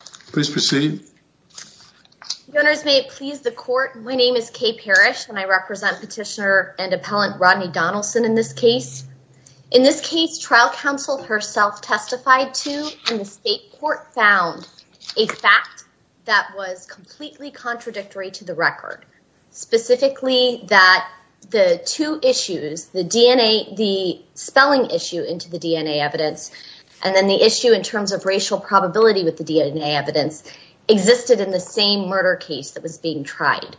Please proceed Owners may please the court My name is Kay Parrish and I represent petitioner and appellant Rodney Donelson in this case in this case trial counsel herself Testified to and the state court found a fact that was completely contradictory to the record specifically that the two issues the DNA the Probability with the DNA evidence Existed in the same murder case that was being tried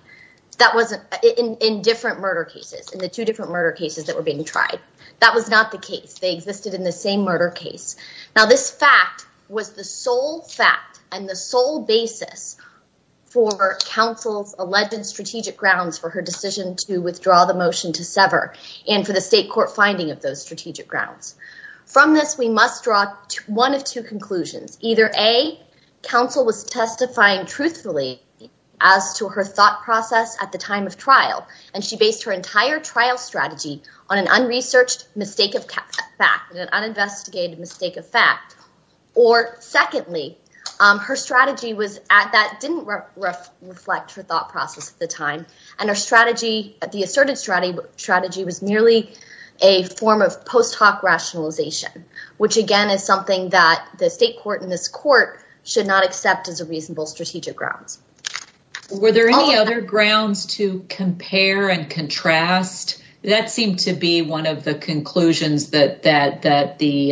That wasn't in different murder cases in the two different murder cases that were being tried. That was not the case They existed in the same murder case. Now. This fact was the sole fact and the sole basis for Council's alleged strategic grounds for her decision to withdraw the motion to sever and for the state court finding of those strategic grounds From this we must draw to one of two conclusions either a counsel was testifying truthfully as To her thought process at the time of trial and she based her entire trial strategy on an unresearched mistake of fact uninvestigated mistake of fact or secondly, her strategy was at that didn't reflect her thought process at the time and her strategy at the asserted strategy strategy was merely a form of post hoc rationalization Which again is something that the state court in this court should not accept as a reasonable strategic grounds Were there any other grounds to compare and contrast? that seemed to be one of the conclusions that that that the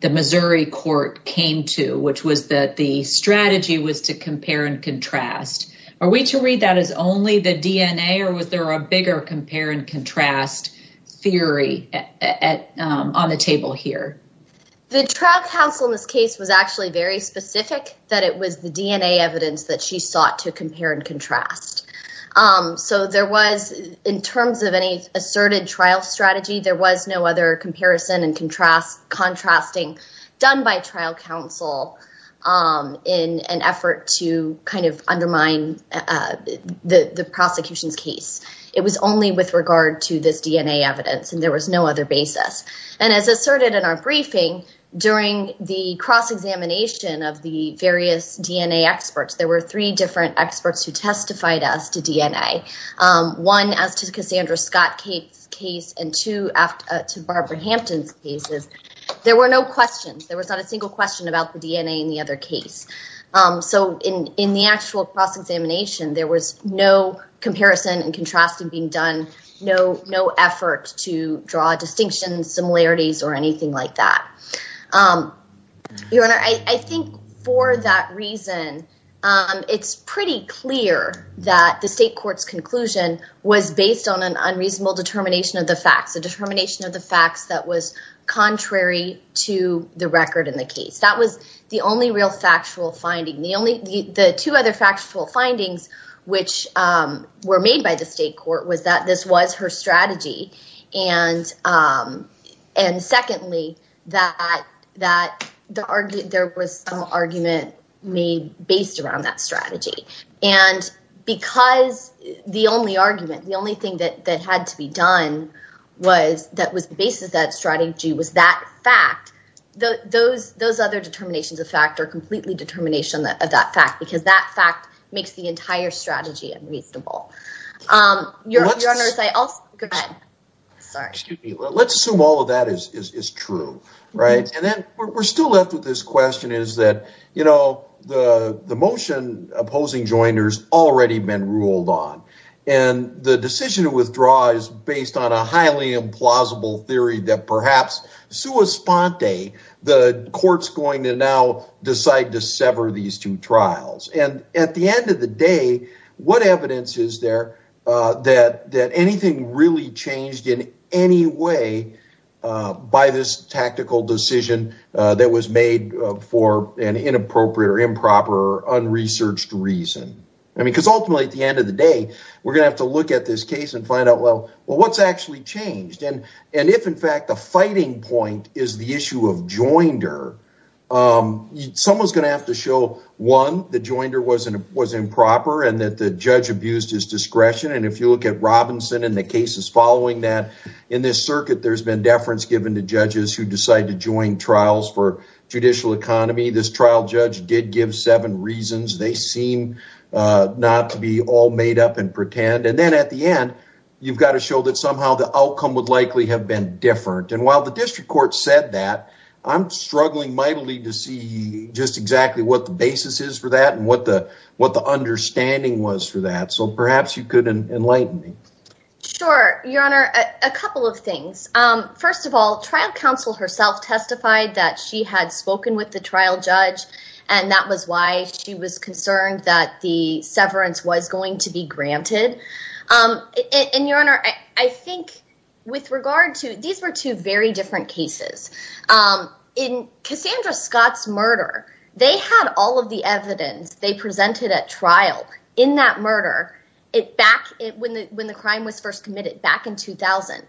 The Missouri court came to which was that the strategy was to compare and contrast Are we to read that as only the DNA or was there a bigger compare and contrast? Theory on the table here The trial counsel in this case was actually very specific that it was the DNA evidence that she sought to compare and contrast So there was in terms of any asserted trial strategy. There was no other comparison and contrast contrasting done by trial counsel in an effort to kind of undermine The the prosecution's case it was only with regard to this DNA evidence and there was no other basis and as asserted in our briefing During the cross examination of the various DNA experts. There were three different experts who testified us to DNA One as to Cassandra Scott Kate's case and to after to Barbara Hampton's cases. There were no questions There was not a single question about the DNA in the other case So in in the actual cross-examination there was no Comparison and contrasting being done. No no effort to draw distinctions similarities or anything like that Your honor I think for that reason It's pretty clear that the state courts conclusion was based on an unreasonable determination of the facts the determination of the facts that was The only real factual finding the only the two other factual findings which were made by the state court was that this was her strategy and and secondly that that the argument there was some argument made based around that strategy and Because the only argument the only thing that that had to be done Was that was the basis that strategy was that fact? The those those other determinations of fact or completely determination that of that fact because that fact makes the entire strategy and reasonable your Let's assume all of that is true, right and then we're still left with this question is that you know, the the motion opposing joiners already been ruled on and the decision to withdraw is based on a highly implausible theory that perhaps Suispante the courts going to now decide to sever these two trials and at the end of the day What evidence is there that that anything really changed in any way? By this tactical decision that was made for an inappropriate or improper Unresearched reason I mean because ultimately at the end of the day, we're gonna have to look at this case and find out Well, well what's actually changed and and if in fact the fighting point is the issue of joinder? Someone's gonna have to show one the joinder wasn't it was improper and that the judge abused his discretion And if you look at Robinson and the cases following that in this circuit There's been deference given to judges who decide to join trials for judicial economy. This trial judge did give seven reasons. They seem Not to be all made up and pretend and then at the end You've got to show that somehow the outcome would likely have been different and while the district court said that I'm Struggling mightily to see just exactly what the basis is for that and what the what the understanding was for that So perhaps you could enlighten me Sure, your honor a couple of things first of all trial counsel herself testified that she had spoken with the trial judge and That was why she was concerned that the severance was going to be granted And your honor, I think with regard to these were two very different cases In Cassandra Scott's murder. They had all of the evidence they presented at trial in that murder it back it when the when the crime was first committed back in 2000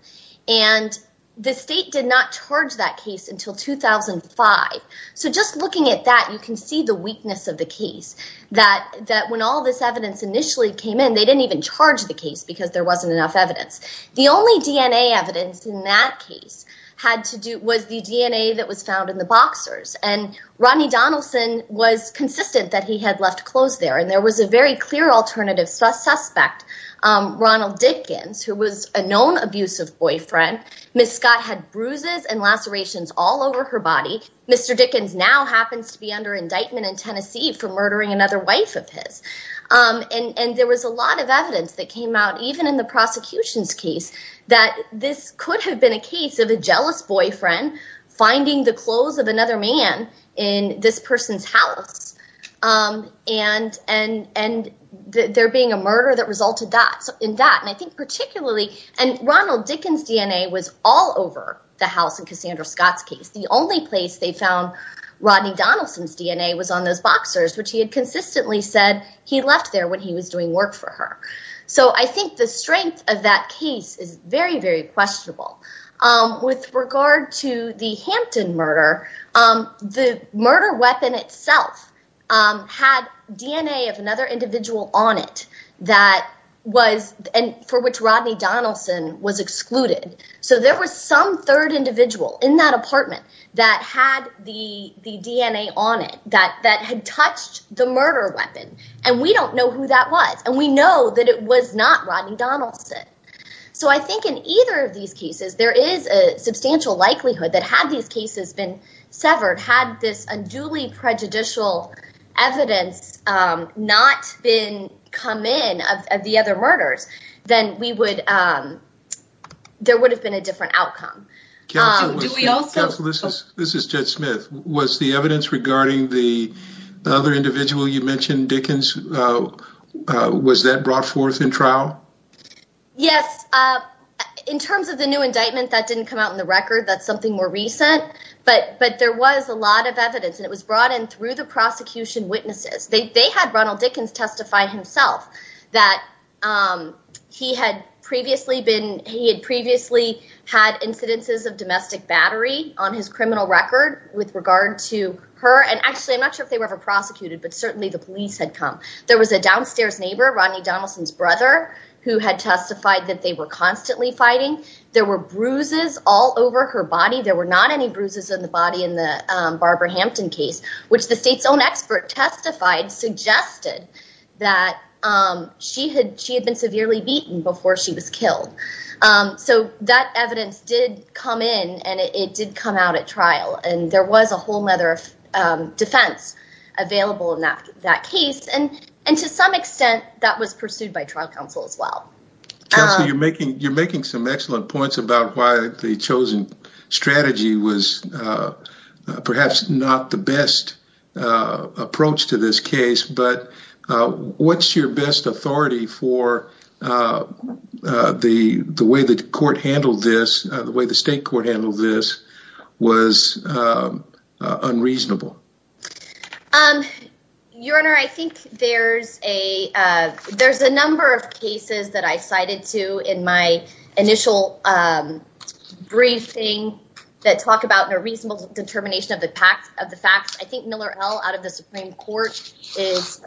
and The state did not charge that case until 2005 so just looking at that you can see the weakness of the case that that when all this evidence initially came in They didn't even charge the case because there wasn't enough evidence the only DNA evidence in that case had to do was the DNA that was found in the boxers and Rodney Donaldson was consistent that he had left clothes there and there was a very clear alternative suspect Ronald Dickens who was a known abusive boyfriend. Miss Scott had bruises and lacerations all over her body Mr. Dickens now happens to be under indictment in Tennessee for murdering another wife of his And and there was a lot of evidence that came out even in the prosecution's case That this could have been a case of a jealous boyfriend Finding the clothes of another man in this person's house and and and There being a murder that resulted dots in that and I think particularly and Ronald Dickens DNA was all over The house and Cassandra Scott's case the only place they found Rodney Donaldson's DNA was on those boxers, which he had consistently said he left there when he was doing work for her So I think the strength of that case is very very questionable with regard to the Hampton murder the murder weapon itself Had DNA of another individual on it that Was and for which Rodney Donaldson was excluded So there was some third individual in that apartment that had the the DNA on it that that had touched The murder weapon and we don't know who that was and we know that it was not Rodney Donaldson So I think in either of these cases there is a substantial likelihood that had these cases been severed had this unduly Prejudicial evidence Not been come in of the other murders, then we would There would have been a different outcome This is Jett Smith was the evidence regarding the other individual you mentioned Dickens Was that brought forth in trial? Yes In terms of the new indictment that didn't come out in the record That's something more recent. But but there was a lot of evidence and it was brought in through the prosecution witnesses they had Ronald Dickens testify himself that He had previously been he had previously Had incidences of domestic battery on his criminal record with regard to her and actually I'm not sure if they were ever prosecuted But certainly the police had come there was a downstairs neighbor Rodney Donaldson's brother Who had testified that they were constantly fighting there were bruises all over her body There were not any bruises in the body in the Barbara Hampton case, which the state's own expert testified suggested that She had she had been severely beaten before she was killed So that evidence did come in and it did come out at trial and there was a whole matter of defense Available in that that case and and to some extent that was pursued by trial counsel as well So you're making you're making some excellent points about why the chosen strategy was Perhaps not the best approach to this case, but What's your best authority for? The the way the court handled this the way the state court handled this was Unreasonable um your honor, I think there's a There's a number of cases that I cited to in my initial Briefing that talk about a reasonable determination of the facts of the facts. I think Miller L out of the Supreme Court is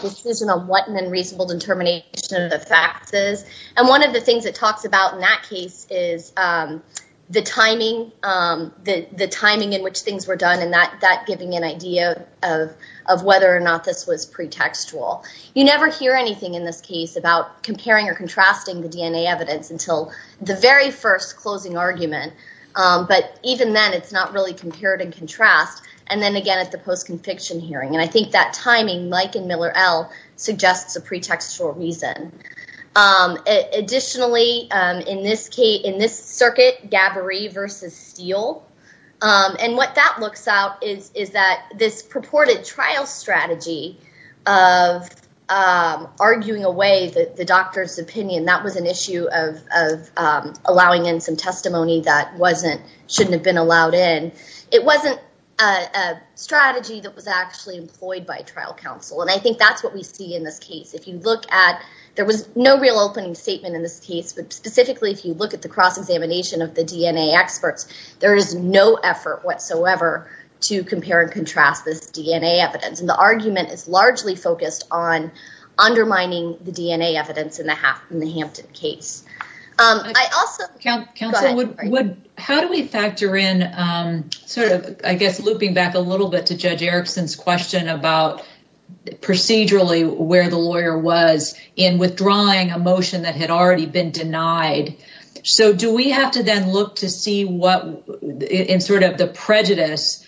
Decision on what an unreasonable determination of the facts is and one of the things that talks about in that case is The timing The the timing in which things were done and that that giving an idea of of whether or not this was pretextual You never hear anything in this case about comparing or contrasting the DNA evidence until the very first closing argument But even then it's not really compared and contrast and then again at the post-conviction hearing and I think that timing Mike and Miller L suggests a pretextual reason Additionally in this case in this circuit Gabbari versus Steele and what that looks out is is that this purported trial strategy of Arguing away the doctor's opinion that was an issue of Allowing in some testimony that wasn't shouldn't have been allowed in it wasn't a Strategy that was actually employed by trial counsel And I think that's what we see in this case if you look at there was no real opening statement in this case But specifically if you look at the cross-examination of the DNA experts There is no effort whatsoever to compare and contrast this DNA evidence and the argument is largely focused on Undermining the DNA evidence in the half in the Hampton case How do we factor in sort of I guess looping back a little bit to judge Erickson's question about Procedurally where the lawyer was in withdrawing a motion that had already been denied So do we have to then look to see what? in sort of the prejudice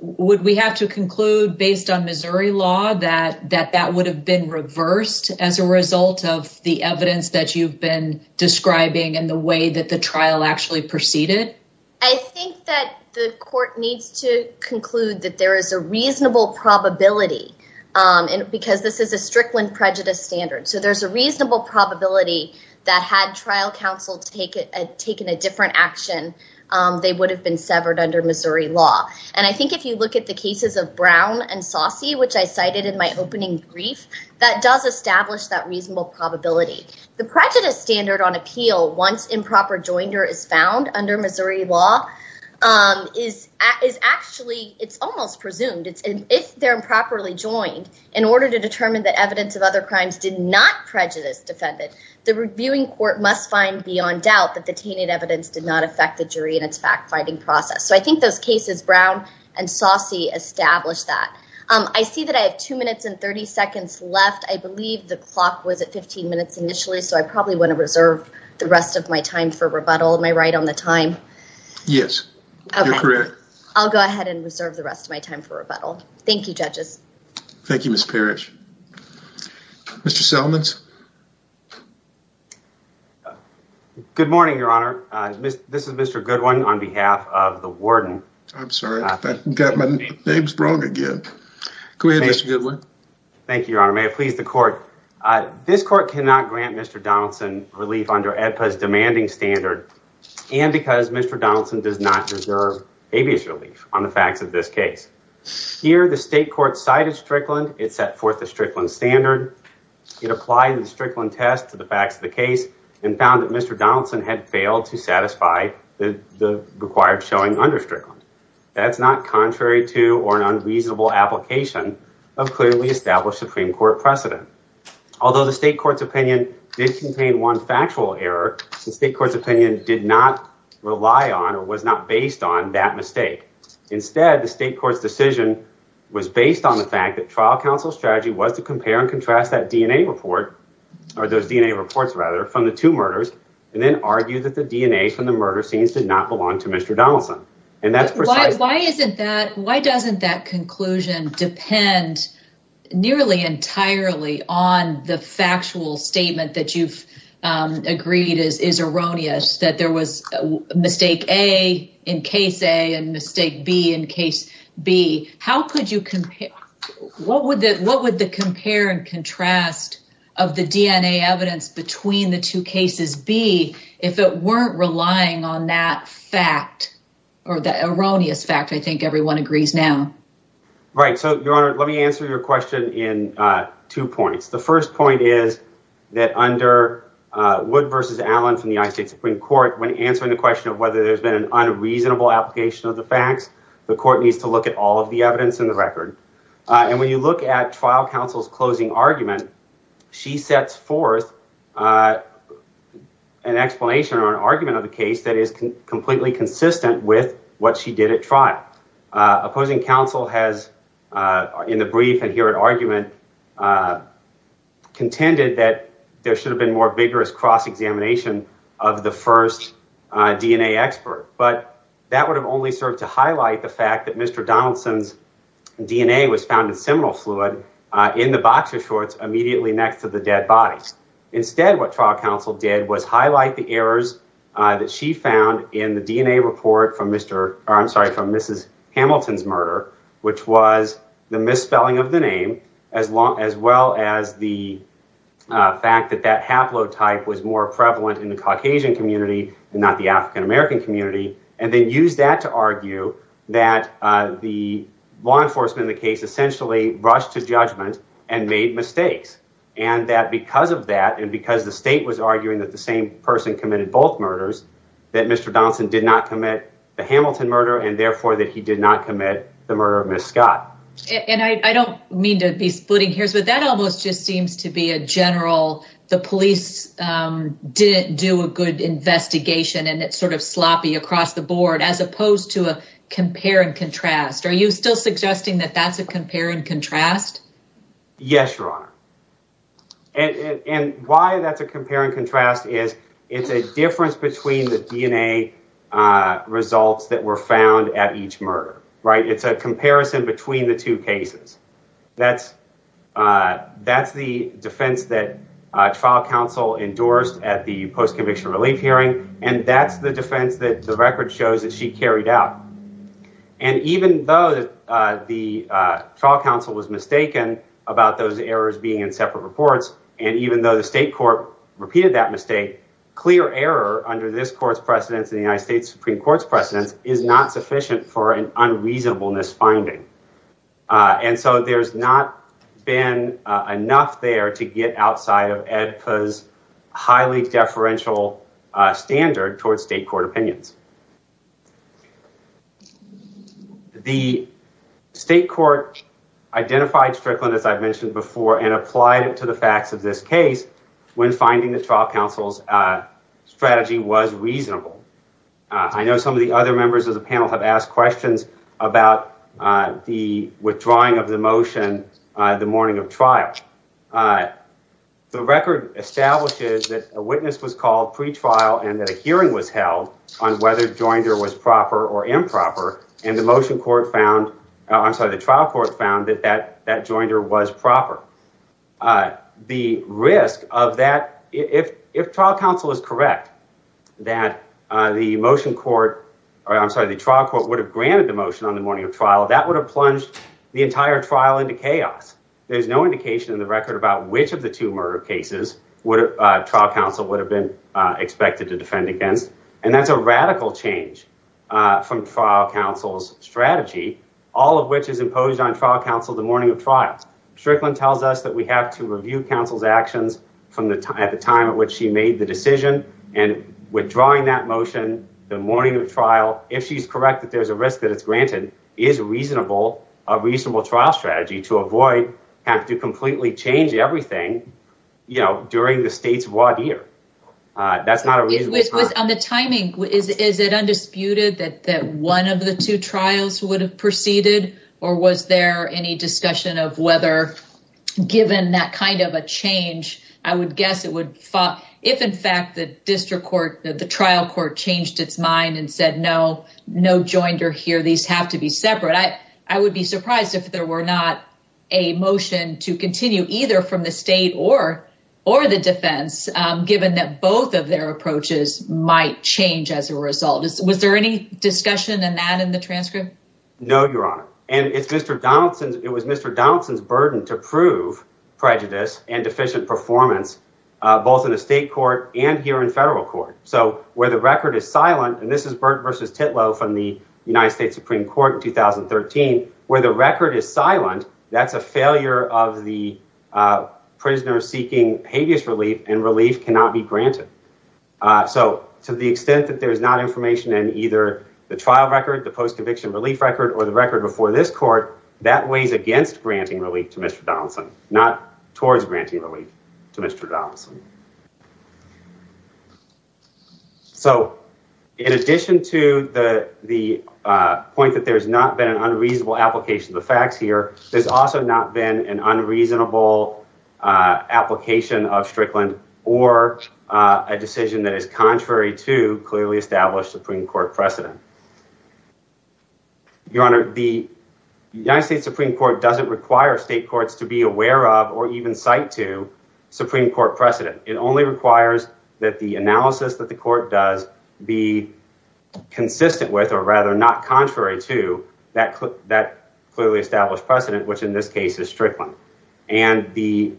Would we have to conclude based on Missouri law that that that would have been reversed as a result of the evidence that you've been Describing and the way that the trial actually proceeded I think that the court needs to conclude that there is a reasonable probability And because this is a Strickland prejudice standard So there's a reasonable probability that had trial counsel to take it and taken a different action They would have been severed under Missouri law And I think if you look at the cases of Brown and saucy which I cited in my opening brief That does establish that reasonable probability the prejudice standard on appeal once improper joiner is found under Missouri law Is is actually it's almost presumed It's if they're improperly joined in order to determine that evidence of other crimes did not prejudice Defended the reviewing court must find beyond doubt that the tainted evidence did not affect the jury in its fact-finding process So I think those cases Brown and saucy established that I see that I have two minutes and 30 seconds left I believe the clock was at 15 minutes initially So I probably want to reserve the rest of my time for rebuttal my right on the time Yes I'll go ahead and reserve the rest of my time for rebuttal. Thank you judges. Thank you. Miss Parrish Mr. Sellman's Good morning, your honor. This is mr. Goodwin on behalf of the warden. I'm sorry. I've got my name's wrong again Go ahead. Mr. Goodwin. Thank you, your honor. May I please the court? This court cannot grant. Mr. Donaldson relief under EPPA's demanding standard And because mr. Donaldson does not deserve habeas relief on the facts of this case Here the state court cited Strickland. It set forth the Strickland standard It applied the Strickland test to the facts of the case and found that. Mr. Donaldson had failed to satisfy the Required showing under Strickland. That's not contrary to or an unreasonable application of clearly established Supreme Court precedent Although the state court's opinion did contain one factual error the state court's opinion did not Rely on or was not based on that mistake Instead the state court's decision was based on the fact that trial counsel strategy was to compare and contrast that DNA report Or those DNA reports rather from the two murders and then argue that the DNA from the murder scenes did not belong to mr Donaldson and that's why isn't that why doesn't that conclusion depend Nearly entirely on the factual statement that you've agreed is is erroneous that there was Mistake a in case a and mistake B in case B. How could you compare? What would that what would the compare and contrast of the DNA evidence between the two cases B? If it weren't relying on that fact or the erroneous fact, I think everyone agrees now Right, so your honor, let me answer your question in two points. The first point is that under Wood versus Allen from the I state Supreme Court when answering the question of whether there's been an unreasonable Application of the facts the court needs to look at all of the evidence in the record And when you look at trial counsel's closing argument, she sets forth an Explanation or an argument of the case that is completely consistent with what she did at trial Opposing counsel has in the brief and here at argument Contended that there should have been more vigorous cross-examination of the first DNA expert but that would have only served to highlight the fact that mr. Donaldson's DNA was found in seminal fluid in the boxer shorts immediately next to the dead bodies Instead what trial counsel did was highlight the errors that she found in the DNA report from mr I'm sorry from mrs. Hamilton's murder, which was the misspelling of the name as long as well as the fact that that haplotype was more prevalent in the Caucasian community and not the african-american community and then use that to argue that the law enforcement in the case essentially rushed to judgment and made mistakes and That because of that and because the state was arguing that the same person committed both murders that mr Donaldson did not commit the Hamilton murder and therefore that he did not commit the murder of miss Scott And I don't mean to be splitting hairs, but that almost just seems to be a general the police Didn't do a good investigation and it's sort of sloppy across the board as opposed to a compare and contrast Are you still suggesting that that's a compare and contrast? Yes, your honor And why that's a compare and contrast is it's a difference between the DNA Results that were found at each murder, right? It's a comparison between the two cases. That's that's the defense that trial counsel endorsed at the post conviction relief hearing and that's the defense that the record shows that she carried out and even though the Trial counsel was mistaken about those errors being in separate reports and even though the state court Repeated that mistake clear error under this court's precedence in the United States Supreme Court's precedence is not sufficient for an unreasonableness finding And so there's not been Enough there to get outside of Ed because highly deferential standard towards state court opinions The State court Identified Strickland as I've mentioned before and applied it to the facts of this case when finding the trial counsel's Strategy was reasonable. I know some of the other members of the panel have asked questions about the withdrawing of the motion the morning of trial The record Establishes that a witness was called pretrial and that a hearing was held on Wednesday Whether Joinder was proper or improper and the motion court found. I'm sorry the trial court found that that that Joinder was proper The risk of that if if trial counsel is correct That the motion court or I'm sorry The trial court would have granted the motion on the morning of trial that would have plunged the entire trial into chaos There's no indication in the record about which of the two murder cases would trial counsel would have been Expected to defend against and that's a radical change from trial counsel's Strategy all of which is imposed on trial counsel the morning of trials Strickland tells us that we have to review counsel's actions from the time at the time at which she made the decision and Withdrawing that motion the morning of trial if she's correct that there's a risk that it's granted is Reasonable a reasonable trial strategy to avoid have to completely change everything You know during the state's one year That's not a reason it was on the timing is it undisputed that that one of the two trials would have proceeded or was there any discussion of whether Given that kind of a change I would guess it would fought if in fact the district court that the trial court changed its mind and said no No Joinder here. These have to be separate I I would be surprised if there were not a motion to continue either from the state or or the defense Given that both of their approaches might change as a result. Was there any discussion and that in the transcript? No, your honor and it's mr. Donaldson's. It was mr. Donaldson's burden to prove prejudice and deficient performance Both in the state court and here in federal court So where the record is silent and this is burnt versus Titlow from the United States Supreme Court in 2013 where the record is silent. That's a failure of the Relief cannot be granted So to the extent that there's not information and either the trial record the post eviction relief record or the record before this court That weighs against granting relief to mr. Donaldson not towards granting relief to mr. Donaldson So in addition to the the Point that there's not been an unreasonable application of the facts here. There's also not been an unreasonable Application of Strickland or a decision that is contrary to clearly established Supreme Court precedent Your honor the United States Supreme Court doesn't require state courts to be aware of or even cite to Supreme Court precedent. It only requires that the analysis that the court does be consistent with or rather not contrary to that clip that clearly established precedent which in this case is Strickland and the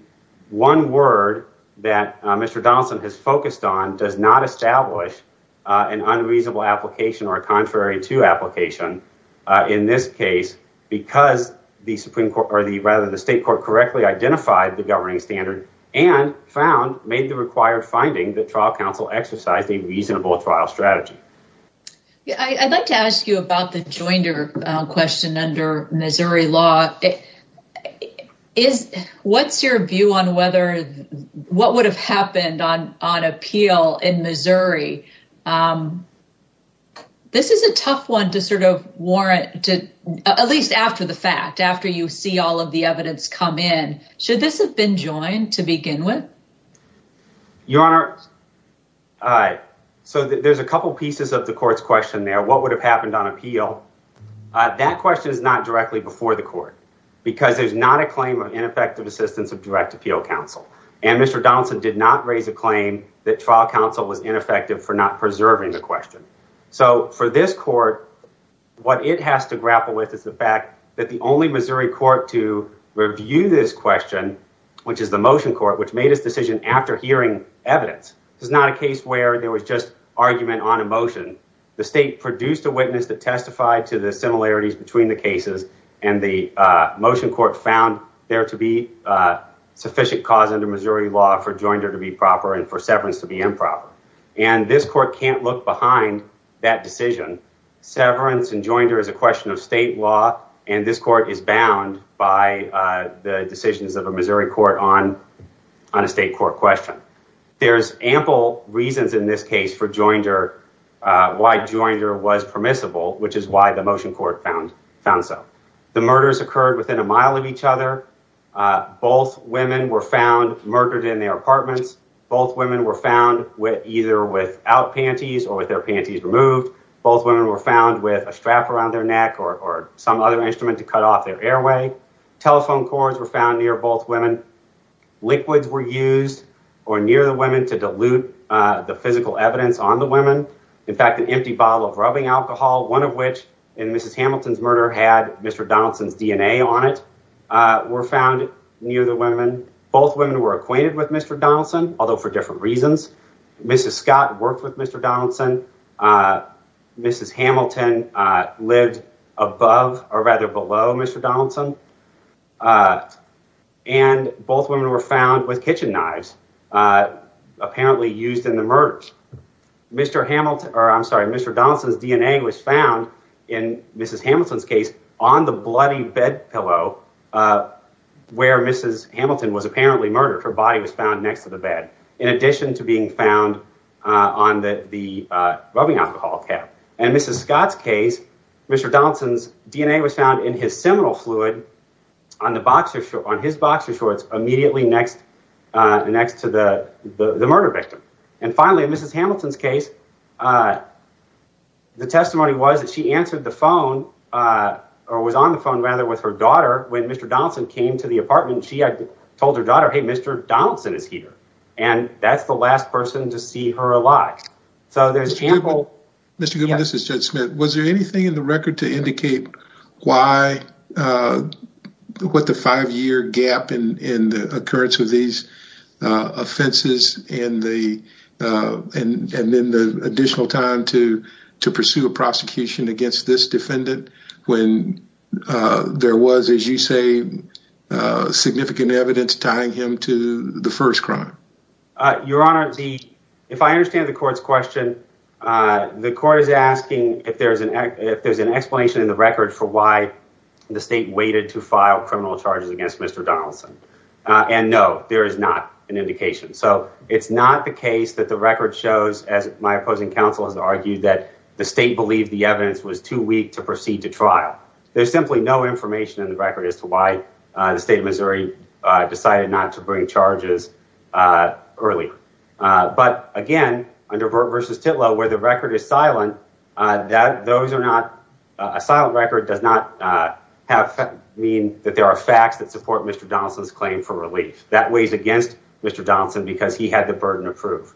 One word that mr. Donaldson has focused on does not establish an unreasonable application or a contrary to application in this case because the Supreme Court or the rather the state court correctly identified the governing standard and Found made the required finding that trial counsel exercised a reasonable trial strategy I'd like to ask you about the jointer question under Missouri law Is what's your view on whether what would have happened on on appeal in Missouri This is a tough one to sort of warrant to at least after the fact after you see all of the evidence come in Should this have been joined to begin with? your honor All right. So there's a couple pieces of the courts question there. What would have happened on appeal? That question is not directly before the court because there's not a claim of ineffective assistance of direct appeal counsel and mr Donaldson did not raise a claim that trial counsel was ineffective for not preserving the question. So for this court What it has to grapple with is the fact that the only Missouri court to review this question Which is the motion court which made its decision after hearing evidence It's not a case where there was just argument on emotion the state produced a witness that testified to the similarities between the cases and the motion court found there to be Sufficient cause under Missouri law for jointer to be proper and for severance to be improper and this court can't look behind that decision severance and jointer is a question of state law and this court is bound by the decisions of a Missouri court on On a state court question. There's ample reasons in this case for jointer Why jointer was permissible, which is why the motion court found found. So the murders occurred within a mile of each other Both women were found murdered in their apartments Both women were found with either without panties or with their panties removed Both women were found with a strap around their neck or some other instrument to cut off their airway Telephone cords were found near both women Liquids were used or near the women to dilute the physical evidence on the women In fact an empty bottle of rubbing alcohol one of which in mrs. Hamilton's murder had mr. Donaldson's DNA on it Were found near the women both women were acquainted with. Mr. Donaldson, although for different reasons Mrs. Scott worked with mr. Donaldson Mrs. Hamilton Lived above or rather below mr. Donaldson and Both women were found with kitchen knives Apparently used in the merge Mr. Hamilton, or I'm sorry. Mr. Donaldson's DNA was found in mrs. Hamilton's case on the bloody bed pillow Where mrs. Hamilton was apparently murdered her body was found next to the bed in addition to being found On the the rubbing alcohol cap and mrs. Scott's case mr. Donaldson's DNA was found in his seminal fluid on the boxer shirt on his boxer shorts immediately next Next to the the murder victim and finally mrs. Hamilton's case The testimony was that she answered the phone Or was on the phone rather with her daughter when mr. Donaldson came to the apartment. She had told her daughter Hey, mr. Donaldson is here and that's the last person to see her alive. So there's people mr. Goodman, this is judge Smith. Was there anything in the record to indicate why? What the five-year gap in the occurrence of these offenses in the and and then the additional time to to pursue a prosecution against this defendant when There was as you say Significant evidence tying him to the first crime Your honor the if I understand the court's question The court is asking if there's an act if there's an explanation in the record for why? The state waited to file criminal charges against mr. Donaldson and no there is not an indication So it's not the case that the record shows as my opposing counsel has argued that the state believed the evidence was too weak to Proceed to trial. There's simply no information in the record as to why the state of Missouri Decided not to bring charges early But again under Burt versus titlow where the record is silent that those are not a silent record does not Have mean that there are facts that support. Mr. Donaldson's claim for relief that weighs against mr. Donaldson because he had the burden of proof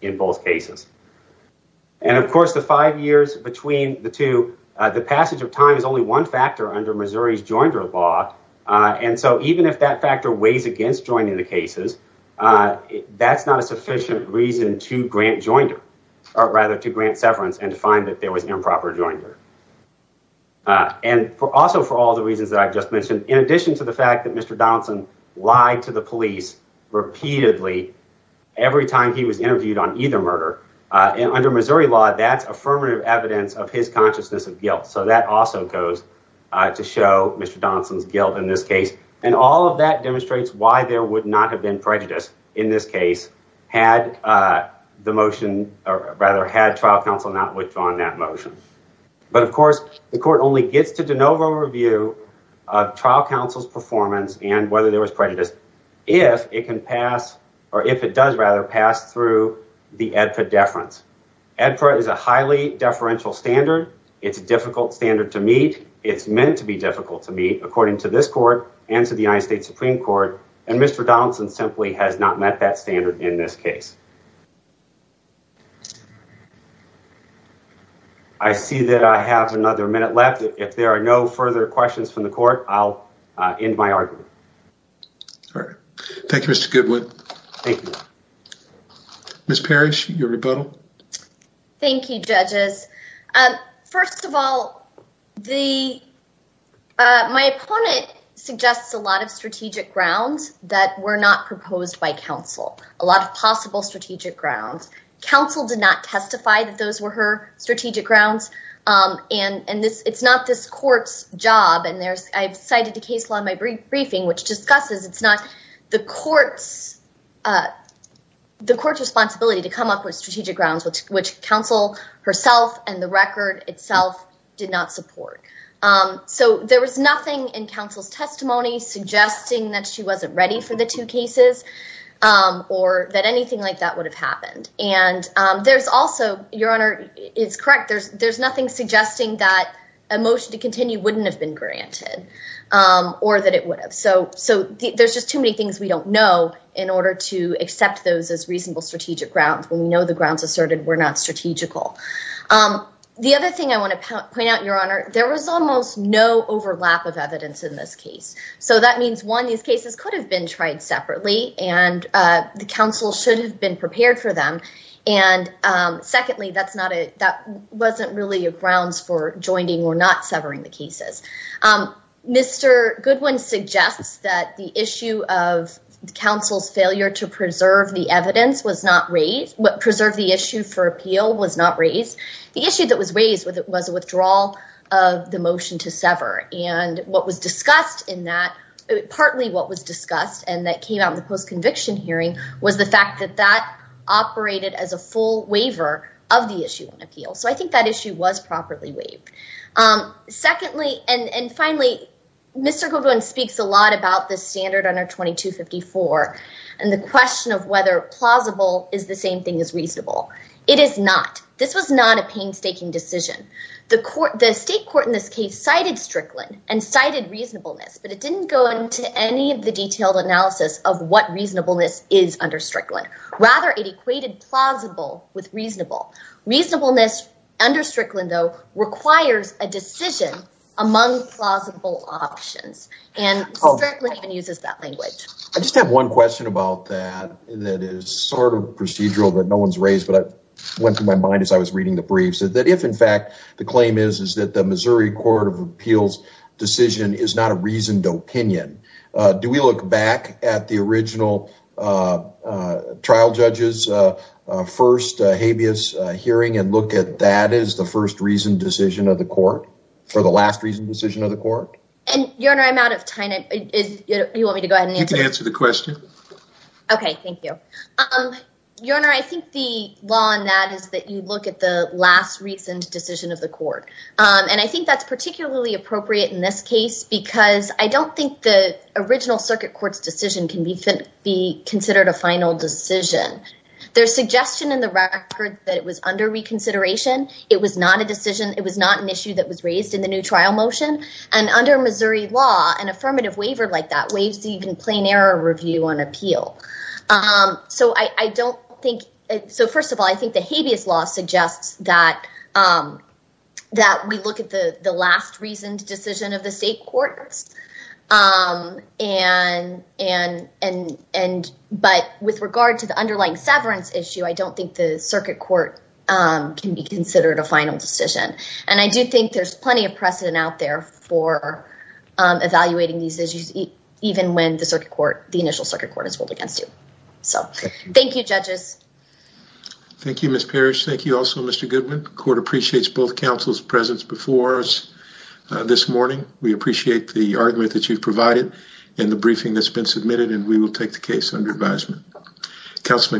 in both cases And of course the five years between the two the passage of time is only one factor under Missouri's jointer law And so even if that factor weighs against joining the cases That's not a sufficient reason to grant jointer or rather to grant severance and to find that there was improper jointer And for also for all the reasons that I've just mentioned in addition to the fact that mr. Donaldson lied to the police repeatedly Every time he was interviewed on either murder and under Missouri law that's affirmative evidence of his consciousness of guilt So that also goes to show mr. Donaldson's guilt in this case and all of that demonstrates why there would not have been prejudice in this case had The motion or rather had trial counsel not withdrawn that motion But of course the court only gets to de novo review of trial counsel's performance and whether there was prejudice If it can pass or if it does rather pass through the edpa deference Edpa is a highly deferential standard. It's a difficult standard to meet It's meant to be difficult to meet according to this court and to the United States Supreme Court and mr Donaldson simply has not met that standard in this case. I See that I have another minute left if there are no further questions from the court, I'll end my argument Thank You, mr. Goodwin, thank you Miss Parrish your rebuttal. Thank you judges. Um, first of all the my opponent Suggests a lot of strategic grounds that were not proposed by counsel a lot of possible strategic grounds Counsel did not testify that those were her strategic grounds And and this it's not this court's job and there's I've cited the case law in my brief briefing which discusses. It's not the courts The court's responsibility to come up with strategic grounds which which counsel herself and the record itself did not support So there was nothing in counsel's testimony Suggesting that she wasn't ready for the two cases Or that anything like that would have happened and there's also your honor. It's correct There's there's nothing suggesting that a motion to continue wouldn't have been granted Or that it would have so so there's just too many things We don't know in order to accept those as reasonable strategic grounds when we know the grounds asserted were not strategical The other thing I want to point out your honor. There was almost no overlap of evidence in this case so that means one these cases could have been tried separately and the council should have been prepared for them and Secondly, that's not it. That wasn't really a grounds for joining or not severing the cases Mr. Goodwin suggests that the issue of Council's failure to preserve the evidence was not raised what preserved the issue for appeal was not raised The issue that was raised with it was a withdrawal of the motion to sever and what was discussed in that Partly what was discussed and that came out in the post conviction hearing was the fact that that Operated as a full waiver of the issue in appeal. So I think that issue was properly waived Secondly and and finally Mr. Goodwin speaks a lot about the standard under 2254 and the question of whether plausible is the same thing as reasonable It is not this was not a painstaking decision The court the state court in this case cited Strickland and cited reasonableness But it didn't go into any of the detailed analysis of what reasonableness is under Strickland rather it equated plausible with reasonable Reasonableness under Strickland though requires a decision among plausible options and Uses that language. I just have one question about that That is sort of procedural that no one's raised But I went through my mind as I was reading the briefs that if in fact the claim is is that the Missouri Court of Appeals decision is not a reasoned opinion Do we look back at the original? Trial judges First habeas hearing and look at that is the first reasoned decision of the court for the last reason decision of the court And your honor, I'm out of time it is you want me to go ahead and answer the question Okay. Thank you Your honor. I think the law on that is that you look at the last reasoned decision of the court and I think that's particularly appropriate in this case because I don't think the Original circuit courts decision can be fit be considered a final decision There's suggestion in the record that it was under reconsideration. It was not a decision It was not an issue that was raised in the new trial motion and under Missouri law an affirmative waiver like that ways So you can plain error review on appeal? So I I don't think so. First of all, I think the habeas law suggests that That we look at the the last reasoned decision of the state courts and And but with regard to the underlying severance issue, I don't think the circuit court Can be considered a final decision and I do think there's plenty of precedent out there for Evaluating these issues even when the circuit court the initial circuit court is ruled against you. So thank you judges Thank you. Miss Parrish. Thank you. Also, mr. Goodwin court appreciates both councils presence before us This morning. We appreciate the argument that you've provided in the briefing that's been submitted and we will take the case under advisement councilman